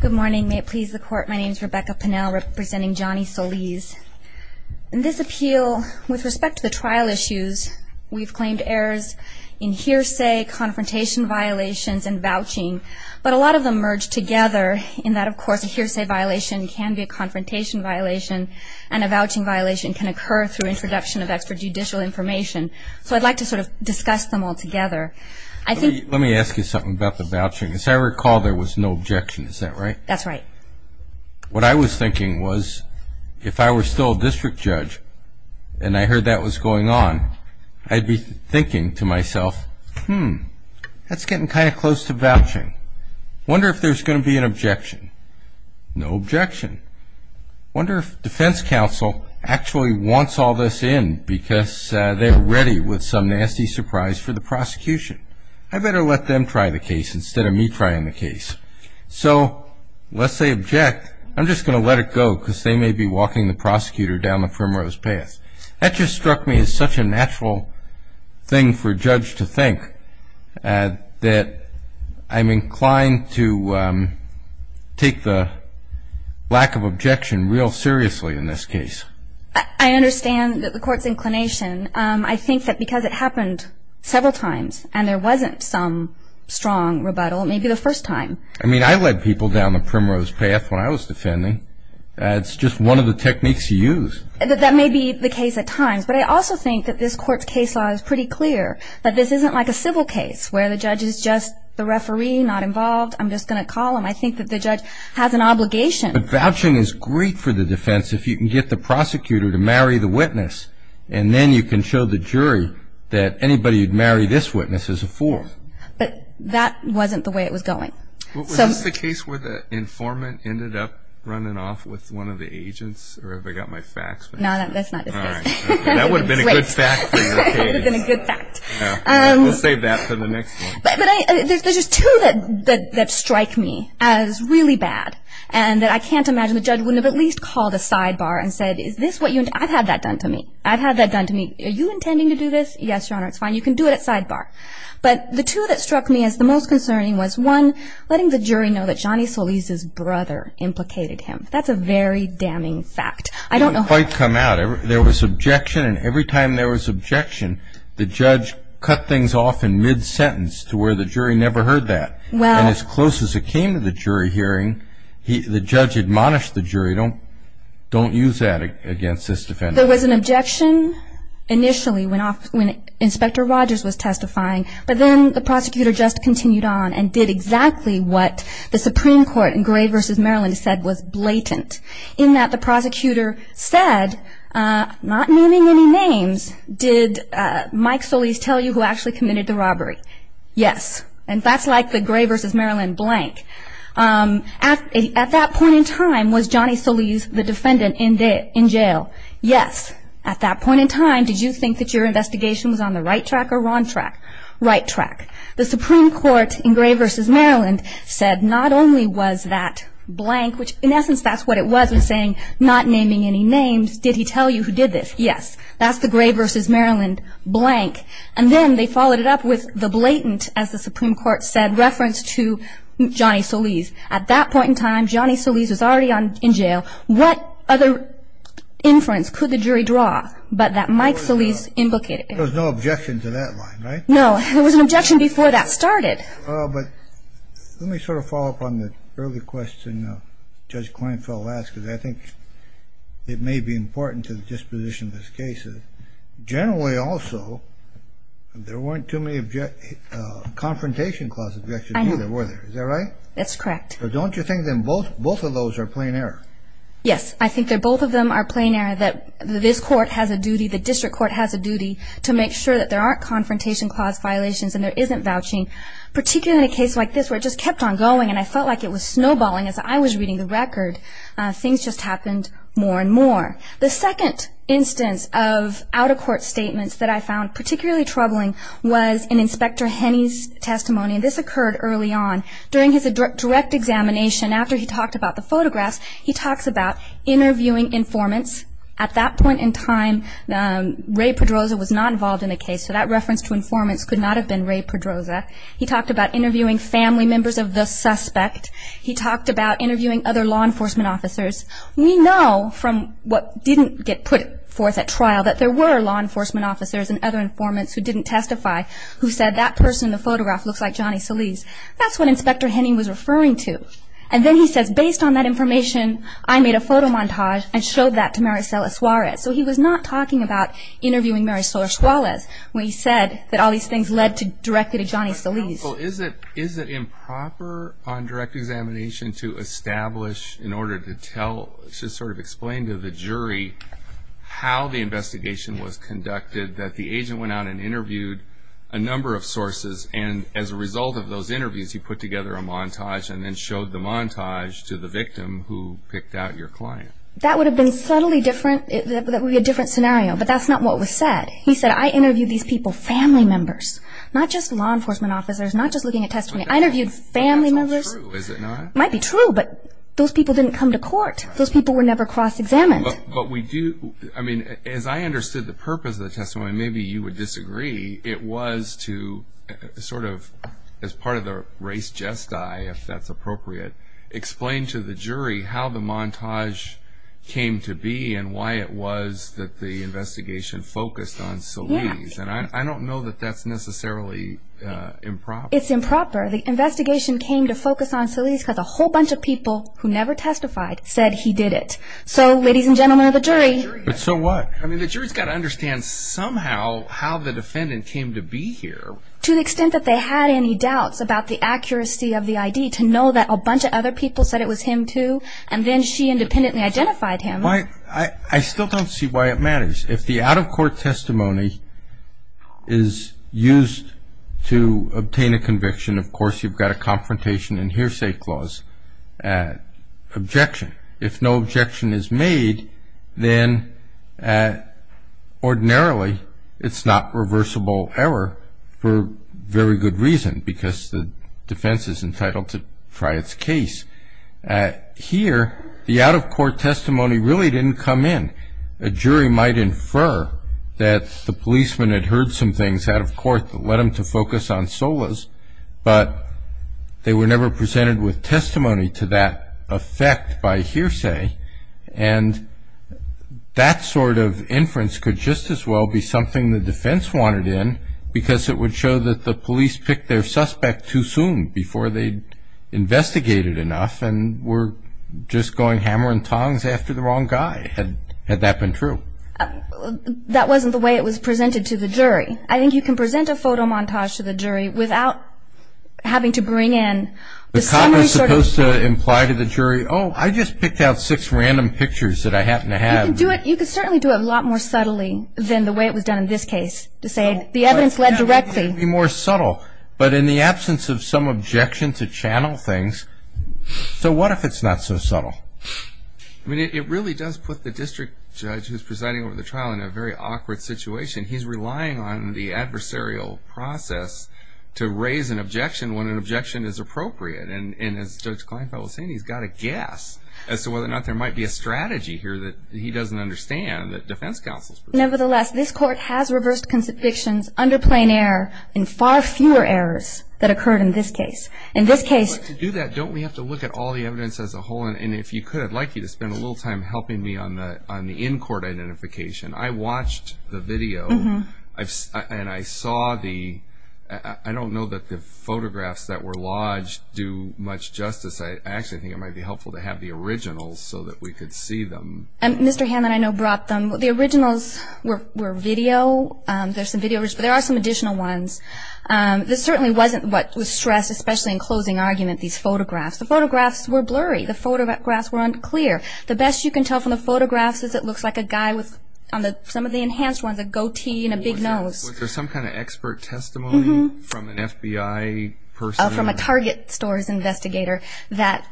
Good morning. May it please the court, my name is Rebecca Pinnell representing Johnny Soliz. In this appeal, with respect to the trial issues, we've claimed errors in hearsay, confrontation violations, and vouching. But a lot of them merge together in that, of course, a hearsay violation can be a confrontation violation and a vouching violation can occur through introduction of extrajudicial information. So I'd like to sort of discuss them all together. Let me ask you something about the vouching. As I recall, there was no objection, is that right? That's right. What I was thinking was, if I were still a district judge and I heard that was going on, I'd be thinking to myself, hmm, that's getting kind of close to vouching. I wonder if there's going to be an objection. No objection. I wonder if defense counsel actually wants all this in because they're ready with some nasty surprise for the prosecution. I better let them try the case instead of me trying the case. So lest they object, I'm just going to let it go because they may be walking the prosecutor down the firm row's path. That just struck me as such a natural thing for a judge to think, that I'm inclined to take the lack of objection real seriously in this case. I understand the court's inclination. I think that because it happened several times and there wasn't some strong rebuttal, maybe the first time. I mean, I led people down the primrose path when I was defending. It's just one of the techniques you use. That may be the case at times, but I also think that this court's case law is pretty clear, that this isn't like a civil case where the judge is just the referee, not involved, I'm just going to call him. I think that the judge has an obligation. But vouching is great for the defense if you can get the prosecutor to marry the witness and then you can show the jury that anybody who'd marry this witness is a fool. But that wasn't the way it was going. Was this the case where the informant ended up running off with one of the agents, or have I got my facts wrong? No, that's not this case. That would have been a good fact for your case. That would have been a good fact. We'll save that for the next one. But there's just two that strike me as really bad, and that I can't imagine the judge wouldn't have at least called a sidebar and said, I've had that done to me. I've had that done to me. Are you intending to do this? Yes, Your Honor, it's fine. You can do it at sidebar. But the two that struck me as the most concerning was, one, letting the jury know that Johnny Solis' brother implicated him. That's a very damning fact. It didn't quite come out. There was objection, and every time there was objection, the judge cut things off in mid-sentence to where the jury never heard that. And as close as it came to the jury hearing, the judge admonished the jury, don't use that against this defendant. There was an objection initially when Inspector Rogers was testifying, but then the prosecutor just continued on and did exactly what the Supreme Court in Gray v. Maryland said was blatant, in that the prosecutor said, not naming any names, did Mike Solis tell you who actually committed the robbery? Yes. And that's like the Gray v. Maryland blank. At that point in time, was Johnny Solis the defendant in jail? Yes. At that point in time, did you think that your investigation was on the right track or wrong track? Right track. The Supreme Court in Gray v. Maryland said not only was that blank, which in essence that's what it was, was saying, not naming any names, did he tell you who did this? Yes. That's the Gray v. Maryland blank. And then they followed it up with the blatant, as the Supreme Court said, reference to Johnny Solis. At that point in time, Johnny Solis was already in jail. What other inference could the jury draw but that Mike Solis indicated? There was no objection to that line, right? No. There was an objection before that started. But let me sort of follow up on the early question Judge Kleinfeld asked, because I think it may be important to the disposition of this case. Generally also, there weren't too many confrontation clause objections either, were there? I know. Is that right? That's correct. Don't you think then both of those are plain error? Yes. I think that both of them are plain error, that this court has a duty, the district court has a duty to make sure that there aren't confrontation clause violations and there isn't vouching, particularly in a case like this where it just kept on going and I felt like it was snowballing as I was reading the record. Things just happened more and more. The second instance of out-of-court statements that I found particularly troubling was in Inspector Henney's testimony, and this occurred early on. During his direct examination, after he talked about the photographs, he talks about interviewing informants. At that point in time, Ray Pedroza was not involved in the case, so that reference to informants could not have been Ray Pedroza. He talked about interviewing family members of the suspect. He talked about interviewing other law enforcement officers. We know from what didn't get put forth at trial that there were law enforcement officers and other informants who didn't testify who said, that person in the photograph looks like Johnny Solis. That's what Inspector Henney was referring to. And then he says, based on that information, I made a photo montage and showed that to Maricela Suarez. So he was not talking about interviewing Maricela Suarez when he said that all these things led directly to Johnny Solis. Is it improper on direct examination to establish in order to tell, to sort of explain to the jury how the investigation was conducted, that the agent went out and interviewed a number of sources, and as a result of those interviews, he put together a montage and then showed the montage to the victim who picked out your client? That would have been subtly different. That would be a different scenario, but that's not what was said. He said, I interviewed these people, family members, not just law enforcement officers, not just looking at testimony. I interviewed family members. That's not true, is it not? It might be true, but those people didn't come to court. Those people were never cross-examined. As I understood the purpose of the testimony, maybe you would disagree, it was to sort of, as part of the race jest I, if that's appropriate, explain to the jury how the montage came to be and why it was that the investigation focused on Solis. I don't know that that's necessarily improper. It's improper. The investigation came to focus on Solis because a whole bunch of people who never testified said he did it. So, ladies and gentlemen of the jury. But so what? I mean, the jury's got to understand somehow how the defendant came to be here. To the extent that they had any doubts about the accuracy of the ID, to know that a bunch of other people said it was him too, and then she independently identified him. I still don't see why it matters. If the out-of-court testimony is used to obtain a conviction, of course, you've got a confrontation and hearsay clause, objection. If no objection is made, then ordinarily it's not reversible error for very good reason, because the defense is entitled to try its case. Here, the out-of-court testimony really didn't come in. A jury might infer that the policeman had heard some things out of court that led him to focus on Solis, but they were never presented with testimony to that effect by hearsay. And that sort of inference could just as well be something the defense wanted in, because it would show that the police picked their suspect too soon, before they investigated enough and were just going hammer and tongs after the wrong guy, had that been true. I think you can present a photo montage to the jury without having to bring in the summary sort of thing. The comment is supposed to imply to the jury, oh, I just picked out six random pictures that I happened to have. You can certainly do it a lot more subtly than the way it was done in this case, to say the evidence led directly. It would be more subtle, but in the absence of some objection to channel things. So what if it's not so subtle? I mean, it really does put the district judge who's presiding over the trial in a very awkward situation. He's relying on the adversarial process to raise an objection when an objection is appropriate. And as Judge Kleinfeld was saying, he's got to guess as to whether or not there might be a strategy here that he doesn't understand that defense counsels pursue. Nevertheless, this court has reversed convictions under plain error in far fewer errors that occurred in this case. In this case. But to do that, don't we have to look at all the evidence as a whole? And if you could, I'd like you to spend a little time helping me on the in-court identification. I watched the video, and I saw the – I don't know that the photographs that were lodged do much justice. I actually think it might be helpful to have the originals so that we could see them. Mr. Hammond, I know, brought them. The originals were video. There are some additional ones. This certainly wasn't what was stressed, especially in closing argument, these photographs. The photographs were blurry. The photographs were unclear. The best you can tell from the photographs is it looks like a guy with, on some of the enhanced ones, a goatee and a big nose. Was there some kind of expert testimony from an FBI person? From a Target store's investigator that,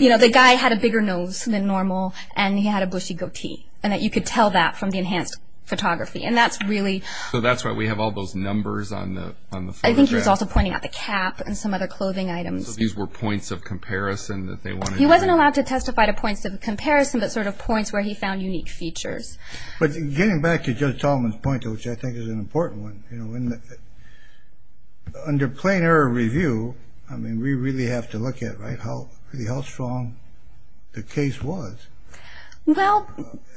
you know, the guy had a bigger nose than normal, and he had a bushy goatee, and that you could tell that from the enhanced photography. And that's really – So that's why we have all those numbers on the photographs. I think he was also pointing out the cap and some other clothing items. So these were points of comparison that they wanted to – He wasn't allowed to testify to points of comparison, but sort of points where he found unique features. But getting back to Judge Tolman's point, which I think is an important one, you know, under plain error review, I mean, we really have to look at, right, how strong the case was. Well,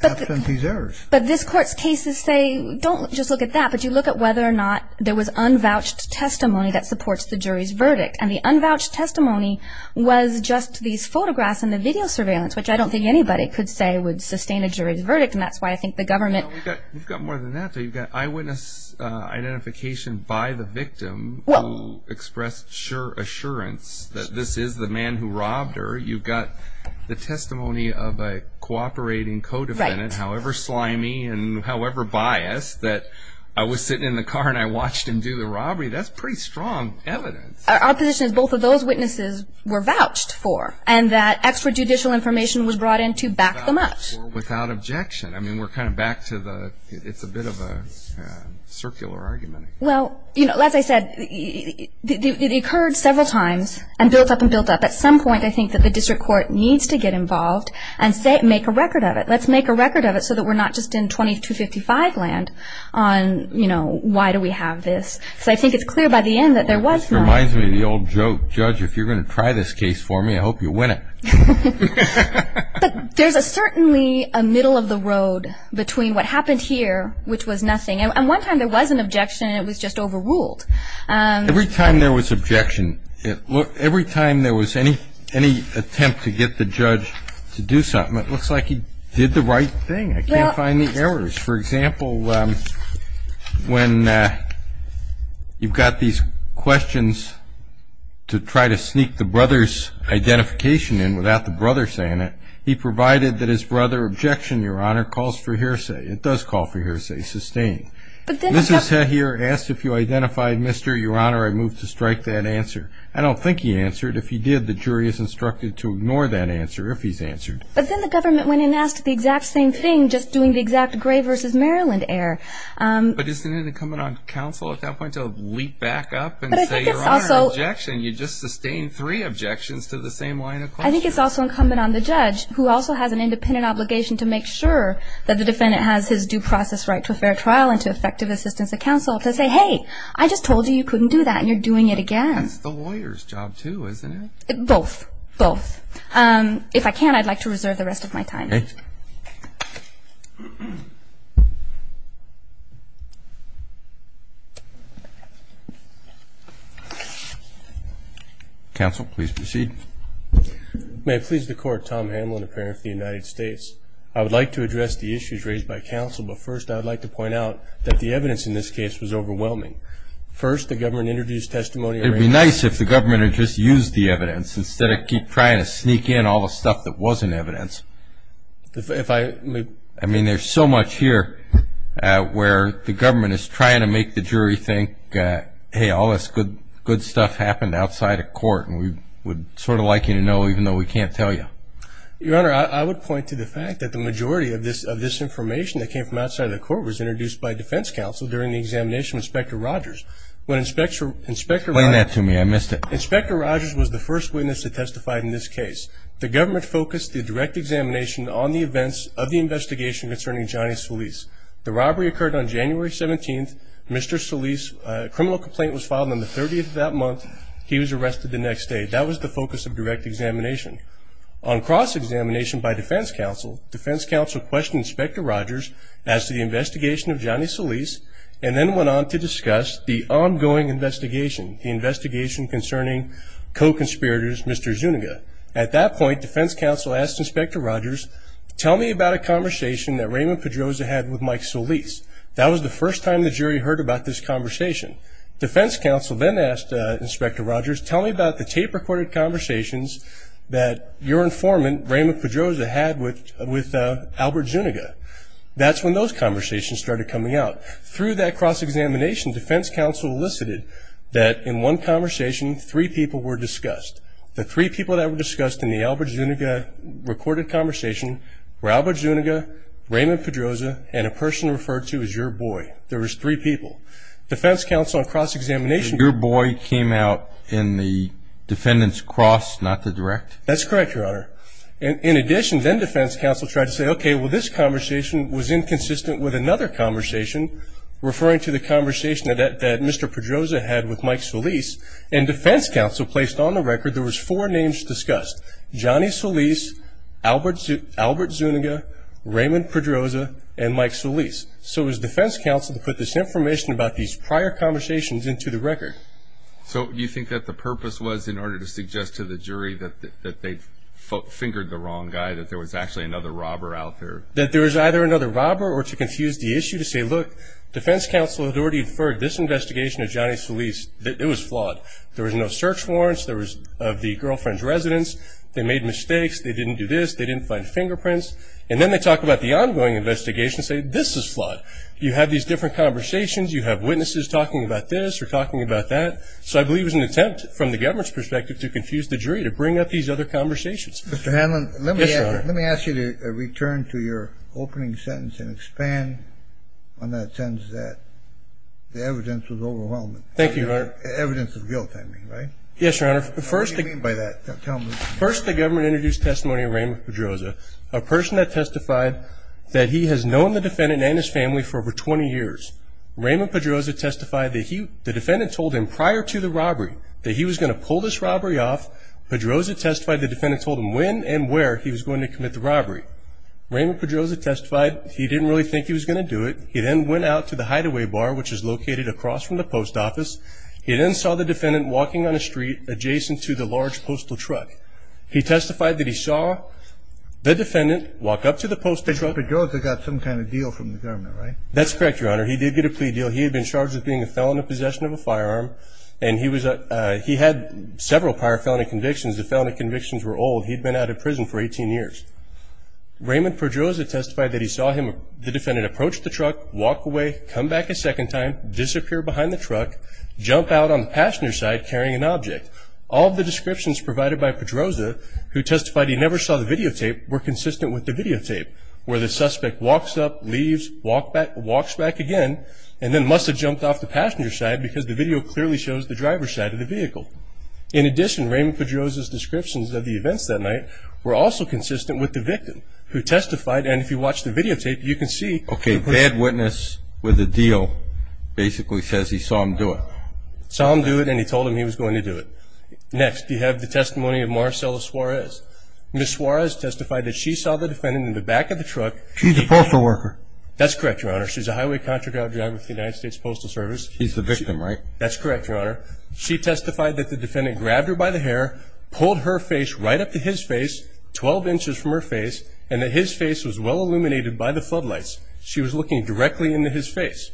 but – After these errors. But this Court's cases say don't just look at that, but you look at whether or not there was unvouched testimony that supports the jury's verdict. And the unvouched testimony was just these photographs and the video surveillance, which I don't think anybody could say would sustain a jury's verdict. And that's why I think the government – You've got more than that, though. You've got eyewitness identification by the victim who expressed assurance that this is the man who robbed her. You've got the testimony of a cooperating co-defendant, however slimy and however biased, that I was sitting in the car and I watched him do the robbery. That's pretty strong evidence. Our position is both of those witnesses were vouched for and that extrajudicial information was brought in to back them up. Without objection. I mean, we're kind of back to the – it's a bit of a circular argument. Well, you know, as I said, it occurred several times and built up and built up. At some point, I think that the district court needs to get involved and make a record of it. Let's make a record of it so that we're not just in 2255 land on, you know, why do we have this. So I think it's clear by the end that there was money. This reminds me of the old joke. Judge, if you're going to try this case for me, I hope you win it. But there's certainly a middle of the road between what happened here, which was nothing. And one time there was an objection and it was just overruled. Every time there was objection, every time there was any attempt to get the judge to do something, it looks like he did the right thing. I can't find the errors. For example, when you've got these questions to try to sneak the brother's identification in without the brother saying it, he provided that his brother objection, Your Honor, calls for hearsay. It does call for hearsay. Sustained. Mrs. Hehir asked if you identified Mr. Your Honor. I moved to strike that answer. I don't think he answered. If he did, the jury is instructed to ignore that answer if he's answered. But then the government went in and asked the exact same thing, just doing the exact gray versus Maryland error. But isn't it incumbent on counsel at that point to leap back up and say, Your Honor, objection? You just sustained three objections to the same line of question. I think it's also incumbent on the judge, who also has an independent obligation to make sure that the defendant has his due process right to a fair trial and to effective assistance of counsel, to say, Hey, I just told you you couldn't do that, and you're doing it again. It's the lawyer's job, too, isn't it? Both. Both. If I can, I'd like to reserve the rest of my time. Counsel, please proceed. May it please the Court, Tom Hamlin, a parent of the United States. I would like to address the issues raised by counsel, but first I would like to point out that the evidence in this case was overwhelming. First, the government introduced testimony. It would be nice if the government had just used the evidence instead of trying to sneak in all the stuff that wasn't evidence. I mean, there's so much here where the government is trying to make the jury think, Hey, all this good stuff happened outside of court, and we would sort of like you to know, even though we can't tell you. Your Honor, I would point to the fact that the majority of this information that came from outside of the court was introduced by defense counsel during the examination of Inspector Rogers. Explain that to me. I missed it. Inspector Rogers was the first witness to testify in this case. The government focused the direct examination on the events of the investigation concerning Johnny Solis. The robbery occurred on January 17th. Mr. Solis' criminal complaint was filed on the 30th of that month. He was arrested the next day. That was the focus of direct examination. On cross-examination by defense counsel, defense counsel questioned Inspector Rogers as to the investigation of Johnny Solis and then went on to discuss the ongoing investigation, the investigation concerning co-conspirators Mr. Zuniga. At that point, defense counsel asked Inspector Rogers, tell me about a conversation that Raymond Pedroza had with Mike Solis. That was the first time the jury heard about this conversation. Defense counsel then asked Inspector Rogers, tell me about the tape-recorded conversations that your informant, Raymond Pedroza, had with Albert Zuniga. That's when those conversations started coming out. Through that cross-examination, defense counsel elicited that in one conversation, three people were discussed. The three people that were discussed in the Albert Zuniga recorded conversation were Albert Zuniga, Raymond Pedroza, and a person referred to as your boy. There was three people. Defense counsel on cross-examination. Your boy came out in the defendant's cross, not the direct? That's correct, Your Honor. In addition, then defense counsel tried to say, okay, well this conversation was inconsistent with another conversation, referring to the conversation that Mr. Pedroza had with Mike Solis, and defense counsel placed on the record there was four names discussed, Johnny Solis, Albert Zuniga, Raymond Pedroza, and Mike Solis. So it was defense counsel who put this information about these prior conversations into the record. So you think that the purpose was in order to suggest to the jury that they fingered the wrong guy, that there was actually another robber out there? That there was either another robber or to confuse the issue to say, look, defense counsel had already deferred this investigation of Johnny Solis. It was flawed. There was no search warrants. There was the girlfriend's residence. They made mistakes. They didn't do this. They didn't find fingerprints. And then they talk about the ongoing investigation and say, this is flawed. You have these different conversations. You have witnesses talking about this or talking about that. So I believe it was an attempt from the government's perspective to confuse the jury, to bring up these other conversations. Mr. Hanlon, let me ask you to return to your opening sentence and expand on that sentence that the evidence was overwhelming. Thank you, Your Honor. Evidence of guilt, I mean, right? Yes, Your Honor. What do you mean by that? Tell me. First, the government introduced testimony of Raymond Pedroza, a person that testified that he has known the defendant and his family for over 20 years. Raymond Pedroza testified that the defendant told him prior to the robbery that he was going to pull this robbery off. Pedroza testified the defendant told him when and where he was going to commit the robbery. Raymond Pedroza testified he didn't really think he was going to do it. He then went out to the hideaway bar, which is located across from the post office. He then saw the defendant walking on a street adjacent to the large postal truck. He testified that he saw the defendant walk up to the post truck. But Pedroza got some kind of deal from the government, right? That's correct, Your Honor. He did get a plea deal. He had been charged with being a felon in possession of a firearm. And he had several prior felony convictions. The felony convictions were old. He'd been out of prison for 18 years. Raymond Pedroza testified that he saw the defendant approach the truck, walk away, come back a second time, disappear behind the truck, jump out on the passenger side carrying an object. All of the descriptions provided by Pedroza, who testified he never saw the videotape, were consistent with the videotape, where the suspect walks up, leaves, walks back again, and then must have jumped off the passenger side because the video clearly shows the driver's side of the vehicle. In addition, Raymond Pedroza's descriptions of the events that night were also consistent with the victim, who testified, and if you watch the videotape, you can see. Okay, bad witness with a deal basically says he saw him do it. Saw him do it, and he told him he was going to do it. Next, you have the testimony of Marcella Suarez. Ms. Suarez testified that she saw the defendant in the back of the truck. She's a postal worker. That's correct, Your Honor. She's a highway contract driver with the United States Postal Service. He's the victim, right? That's correct, Your Honor. She testified that the defendant grabbed her by the hair, pulled her face right up to his face, 12 inches from her face, and that his face was well-illuminated by the floodlights. She was looking directly into his face.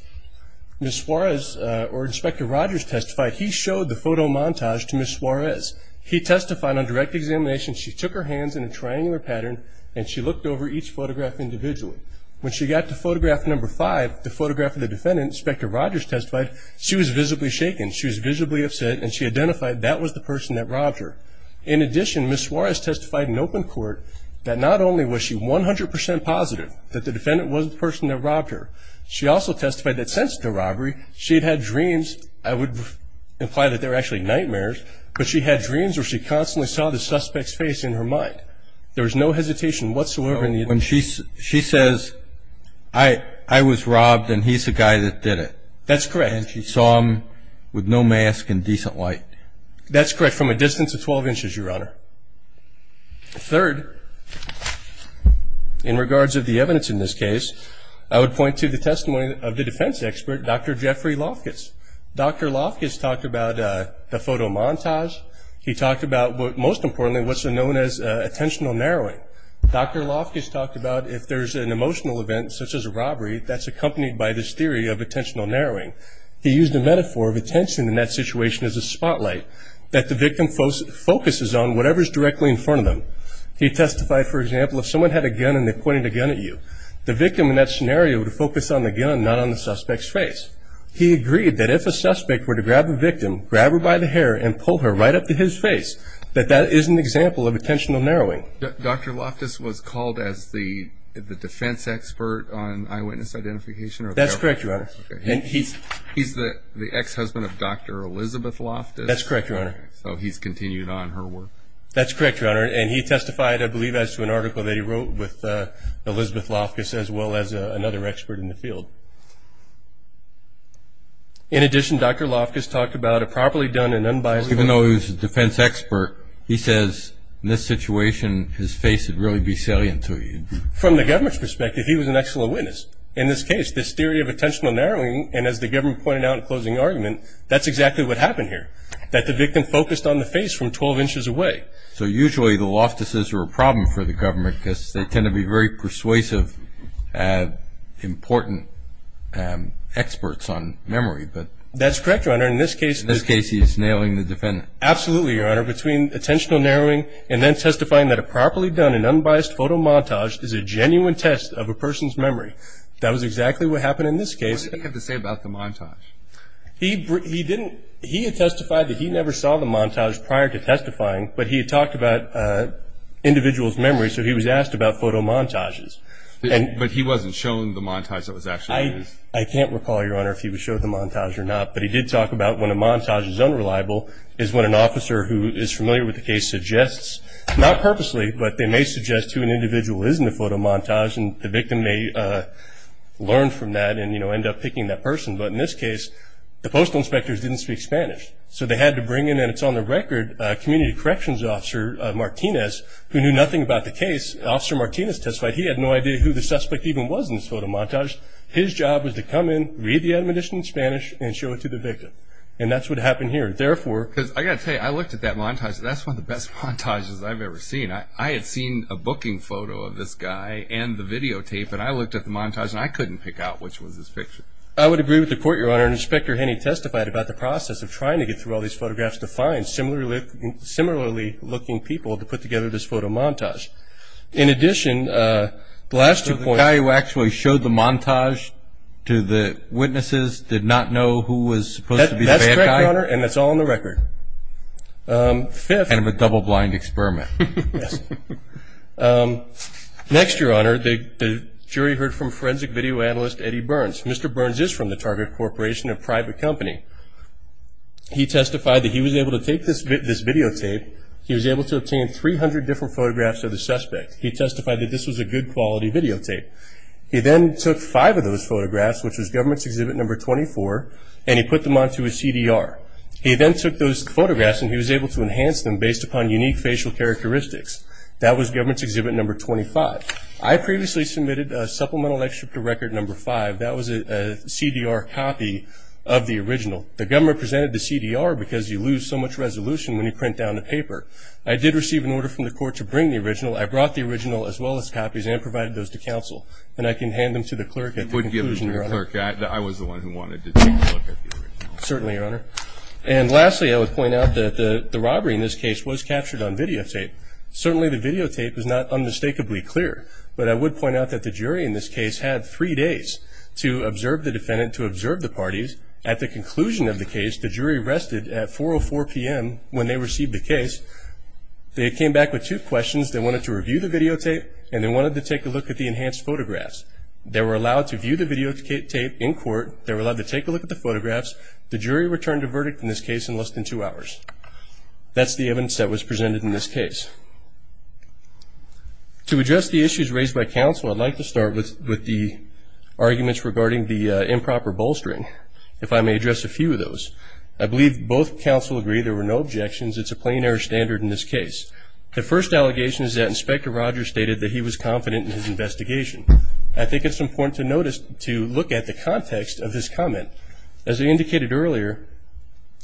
Ms. Suarez, or Inspector Rogers, testified he showed the photo montage to Ms. Suarez. He testified on direct examination she took her hands in a triangular pattern and she looked over each photograph individually. When she got to photograph number five, the photograph of the defendant, Inspector Rogers testified, she was visibly shaken. She was visibly upset, and she identified that was the person that robbed her. In addition, Ms. Suarez testified in open court that not only was she 100% positive that the defendant was the person that robbed her, she also testified that since the robbery, she had had dreams, I would imply that they were actually nightmares, but she had dreams where she constantly saw the suspect's face in her mind. There was no hesitation whatsoever. She says, I was robbed and he's the guy that did it. That's correct. And she saw him with no mask and decent light. That's correct, from a distance of 12 inches, Your Honor. Third, in regards of the evidence in this case, I would point to the testimony of the defense expert, Dr. Jeffrey Lofkus. Dr. Lofkus talked about the photo montage. He talked about, most importantly, what's known as attentional narrowing. Dr. Lofkus talked about if there's an emotional event, such as a robbery, that's accompanied by this theory of attentional narrowing. He used a metaphor of attention in that situation as a spotlight, that the victim focuses on whatever's directly in front of them. He testified, for example, if someone had a gun and they pointed a gun at you, the victim in that scenario would focus on the gun, not on the suspect's face. He agreed that if a suspect were to grab a victim, grab her by the hair and pull her right up to his face, that that is an example of attentional narrowing. Dr. Lofkus was called as the defense expert on eyewitness identification? That's correct, Your Honor. He's the ex-husband of Dr. Elizabeth Lofkus? That's correct, Your Honor. So he's continued on her work? That's correct, Your Honor. And he testified, I believe, as to an article that he wrote with Elizabeth Lofkus, as well as another expert in the field. In addition, Dr. Lofkus talked about a properly done and unbiased... Even though he was a defense expert, he says, in this situation, his face would really be salient to you. From the government's perspective, he was an excellent witness. In this case, this theory of attentional narrowing, and as the government pointed out in the closing argument, that's exactly what happened here, that the victim focused on the face from 12 inches away. So usually the Lofkus' are a problem for the government because they tend to be very persuasive, important experts on memory. That's correct, Your Honor. In this case, he's nailing the defendant. Absolutely, Your Honor. Between attentional narrowing and then testifying that a properly done and unbiased photo montage is a genuine test of a person's memory. That was exactly what happened in this case. What did he have to say about the montage? He had testified that he never saw the montage prior to testifying, but he had talked about individuals' memories, so he was asked about photo montages. But he wasn't shown the montage that was actually used? I can't recall, Your Honor, if he was shown the montage or not, but he did talk about when a montage is unreliable, is when an officer who is familiar with the case suggests, not purposely, but they may suggest who an individual is in the photo montage, and the victim may learn from that and, you know, end up picking that person. But in this case, the postal inspectors didn't speak Spanish, so they had to bring in, and it's on the record, a community corrections officer, Martinez, who knew nothing about the case. Officer Martinez testified he had no idea who the suspect even was in this photo montage. His job was to come in, read the admonition in Spanish, and show it to the victim. And that's what happened here. Therefore, because I got to tell you, I looked at that montage, and that's one of the best montages I've ever seen. I had seen a booking photo of this guy and the videotape, and I looked at the montage, and I couldn't pick out which was his picture. I would agree with the court, Your Honor, and Inspector Henney testified about the process of trying to get through all these photographs to find similarly looking people to put together this photo montage. In addition, the last two points. The guy who actually showed the montage to the witnesses did not know who was supposed to be the bad guy? That's correct, Your Honor, and that's all on the record. Kind of a double-blind experiment. Next, Your Honor, the jury heard from forensic video analyst Eddie Burns. Mr. Burns is from the Target Corporation, a private company. He testified that he was able to take this videotape, he was able to obtain 300 different photographs of the suspect. He testified that this was a good quality videotape. He then took five of those photographs, which was Government's Exhibit No. 24, and he put them onto a CDR. He then took those photographs and he was able to enhance them based upon unique facial characteristics. That was Government's Exhibit No. 25. I previously submitted a supplemental excerpt to Record No. 5. That was a CDR copy of the original. The government presented the CDR because you lose so much resolution when you print down the paper. I did receive an order from the court to bring the original. I brought the original as well as copies and provided those to counsel, and I can hand them to the clerk at the conclusion, Your Honor. You would give them to the clerk. I was the one who wanted to take a look at the original. Certainly, Your Honor. And lastly, I would point out that the robbery in this case was captured on videotape. Certainly the videotape is not unmistakably clear, but I would point out that the jury in this case had three days to observe the defendant, to observe the parties. At the conclusion of the case, the jury rested at 4.04 p.m. when they received the case. They came back with two questions. They wanted to review the videotape, and they wanted to take a look at the enhanced photographs. They were allowed to view the videotape in court. They were allowed to take a look at the photographs. The jury returned a verdict in this case in less than two hours. That's the evidence that was presented in this case. To address the issues raised by counsel, I'd like to start with the arguments regarding the improper bolstering, if I may address a few of those. I believe both counsel agree there were no objections. It's a plain error standard in this case. The first allegation is that Inspector Rogers stated that he was confident in his investigation. I think it's important to look at the context of his comment. As I indicated earlier,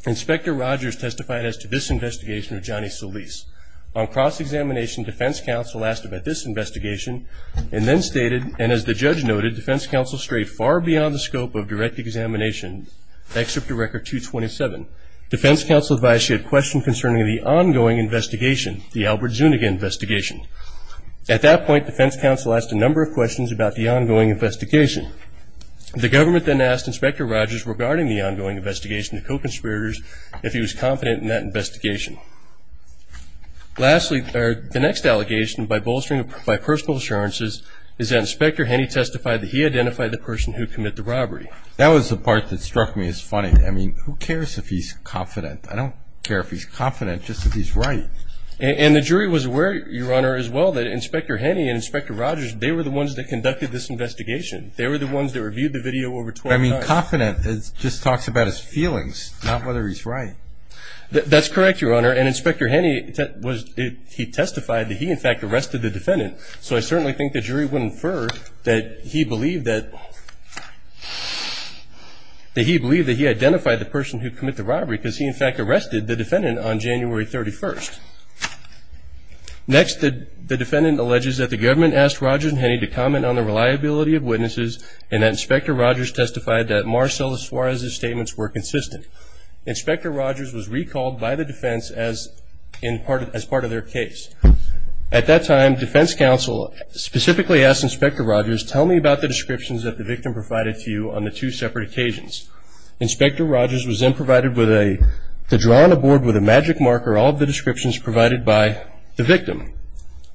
Inspector Rogers testified as to this investigation of Johnny Solis. On cross-examination, defense counsel asked about this investigation and then stated, and as the judge noted, defense counsel strayed far beyond the scope of direct examination, except to record 227. Defense counsel advised he had questions concerning the ongoing investigation, the Albert Zuniga investigation. At that point, defense counsel asked a number of questions about the ongoing investigation. The government then asked Inspector Rogers regarding the ongoing investigation to co-conspirators if he was confident in that investigation. Lastly, the next allegation by bolstering by personal assurances is that Inspector Henney testified that he identified the person who committed the robbery. That was the part that struck me as funny. I mean, who cares if he's confident? I don't care if he's confident, just if he's right. And the jury was aware, Your Honor, as well, that Inspector Henney and Inspector Rogers, they were the ones that conducted this investigation. They were the ones that reviewed the video over 12 times. I mean, confident just talks about his feelings, not whether he's right. That's correct, Your Honor, and Inspector Henney, he testified that he, in fact, arrested the defendant. So I certainly think the jury would infer that he believed that he identified the person who committed the robbery because he, in fact, arrested the defendant on January 31st. Next, the defendant alleges that the government asked Rogers and Henney to comment on the reliability of witnesses and that Inspector Rogers testified that Marcella Suarez's statements were consistent. Inspector Rogers was recalled by the defense as part of their case. At that time, defense counsel specifically asked Inspector Rogers, tell me about the descriptions that the victim provided to you on the two separate occasions. Inspector Rogers was then provided with a drawing on a board with a magic marker, all of the descriptions provided by the victim.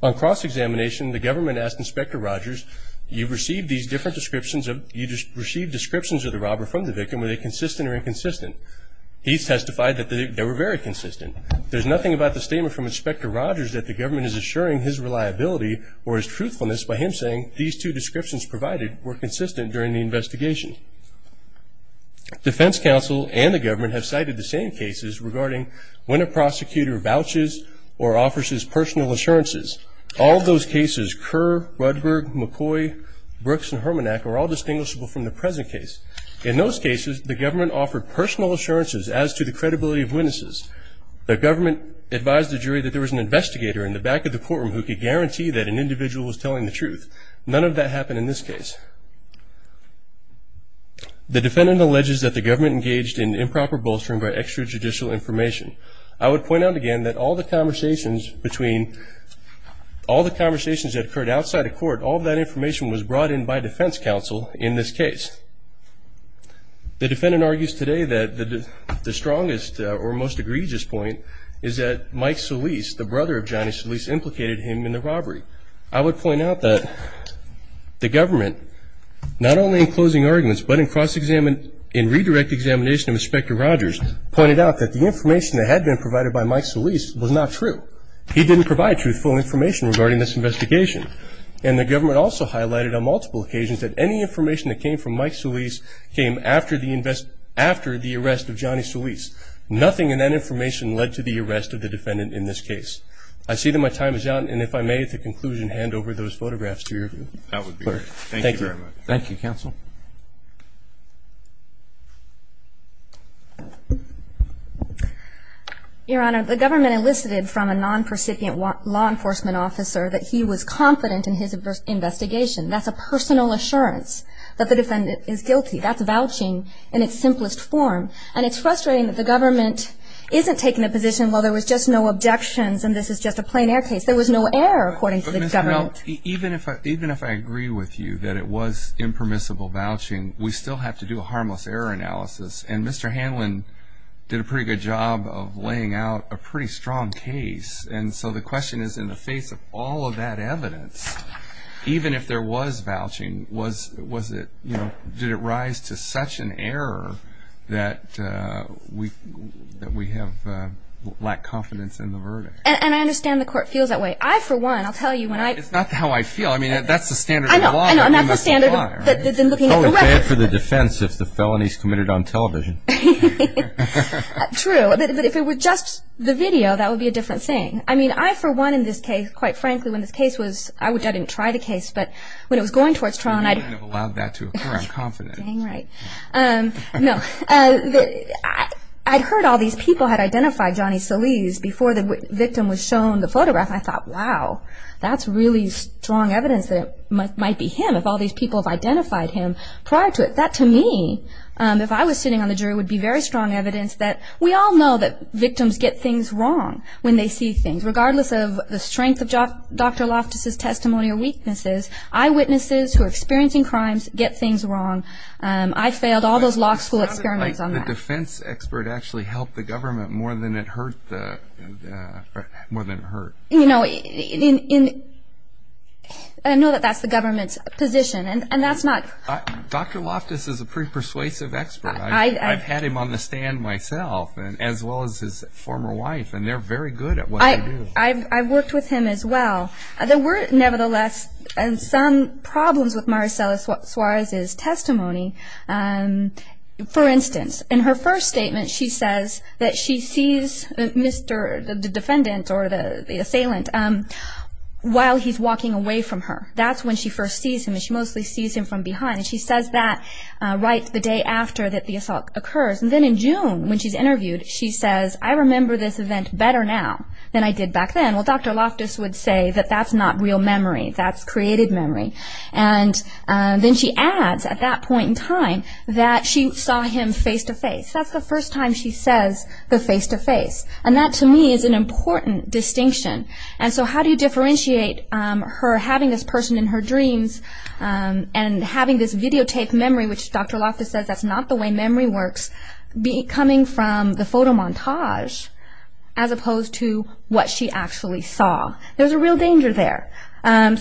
On cross-examination, the government asked Inspector Rogers, you received descriptions of the robber from the victim. Were they consistent or inconsistent? He testified that they were very consistent. There's nothing about the statement from Inspector Rogers that the government is assuring his reliability or his truthfulness by him saying these two descriptions provided were consistent during the investigation. Defense counsel and the government have cited the same cases regarding when a prosecutor vouches or offers his personal assurances. All of those cases, Kerr, Rudberg, McCoy, Brooks, and Hermanack, are all distinguishable from the present case. In those cases, the government offered personal assurances as to the credibility of witnesses. The government advised the jury that there was an investigator in the back of the courtroom who could guarantee that an individual was telling the truth. None of that happened in this case. The defendant alleges that the government engaged in improper bolstering by extrajudicial information. I would point out again that all the conversations that occurred outside of court, all that information was brought in by defense counsel in this case. The defendant argues today that the strongest or most egregious point is that Mike Solis, the brother of Johnny Solis, implicated him in the robbery. I would point out that the government, not only in closing arguments but in cross-examination and redirect examination of Inspector Rogers, pointed out that the information that had been provided by Mike Solis was not true. He didn't provide truthful information regarding this investigation. And the government also highlighted on multiple occasions that any information that came from Mike Solis came after the arrest of Johnny Solis. Nothing in that information led to the arrest of the defendant in this case. I see that my time is out. And if I may, at the conclusion, hand over those photographs to your clerk. Thank you very much. Thank you, counsel. Your Honor, the government elicited from a non-percipient law enforcement officer that he was confident in his investigation. That's a personal assurance that the defendant is guilty. That's vouching in its simplest form. And it's frustrating that the government isn't taking a position, well, there was just no objections and this is just a plain air case. There was no error according to the government. But, Ms. Melton, even if I agree with you that it was impermissible, we still have to do a harmless error analysis. And Mr. Hanlon did a pretty good job of laying out a pretty strong case. And so the question is, in the face of all of that evidence, even if there was vouching, did it rise to such an error that we have lacked confidence in the verdict? And I understand the court feels that way. I, for one, I'll tell you when I – It's not how I feel. I mean, that's the standard of law. I know. That's the standard of law. I would pay it for the defense if the felonies committed on television. True. But if it were just the video, that would be a different thing. I mean, I, for one, in this case, quite frankly, when this case was – I didn't try the case, but when it was going towards trial and I – You wouldn't have allowed that to occur, I'm confident. Dang right. No. I'd heard all these people had identified Johnny Salese before the victim was shown the photograph. And I thought, wow, that's really strong evidence that it might be him, if all these people have identified him prior to it. That, to me, if I was sitting on the jury, would be very strong evidence that we all know that victims get things wrong when they see things. Regardless of the strength of Dr. Loftus' testimony or weaknesses, eyewitnesses who are experiencing crimes get things wrong. I failed all those law school experiments on that. The defense expert actually helped the government more than it hurt the – more than it hurt. You know, in – I know that that's the government's position, and that's not – Dr. Loftus is a pretty persuasive expert. I've had him on the stand myself, as well as his former wife, and they're very good at what they do. I've worked with him as well. There were, nevertheless, some problems with Maricela Suarez's testimony. For instance, in her first statement, she says that she sees Mr. – the defendant or the assailant – while he's walking away from her. That's when she first sees him, and she mostly sees him from behind. And she says that right the day after that the assault occurs. And then in June, when she's interviewed, she says, I remember this event better now than I did back then. Well, Dr. Loftus would say that that's not real memory. That's created memory. And then she adds, at that point in time, that she saw him face-to-face. That's the first time she says the face-to-face. And that, to me, is an important distinction. And so how do you differentiate her having this person in her dreams and having this videotaped memory, which Dr. Loftus says that's not the way memory works, coming from the photo montage as opposed to what she actually saw? There's a real danger there. And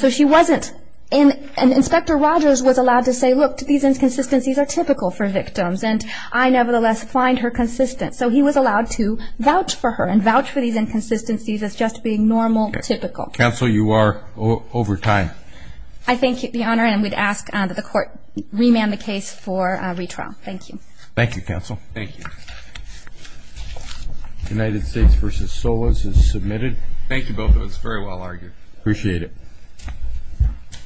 Inspector Rogers was allowed to say, look, these inconsistencies are typical for victims, and I nevertheless find her consistent. So he was allowed to vouch for her and vouch for these inconsistencies as just being normal, typical. Counsel, you are over time. I thank you, Your Honor, and we'd ask that the Court remand the case for retrial. Thank you. Thank you, Counsel. Thank you. United States v. Solis is submitted. Thank you, both of us. Very well argued. Appreciate it.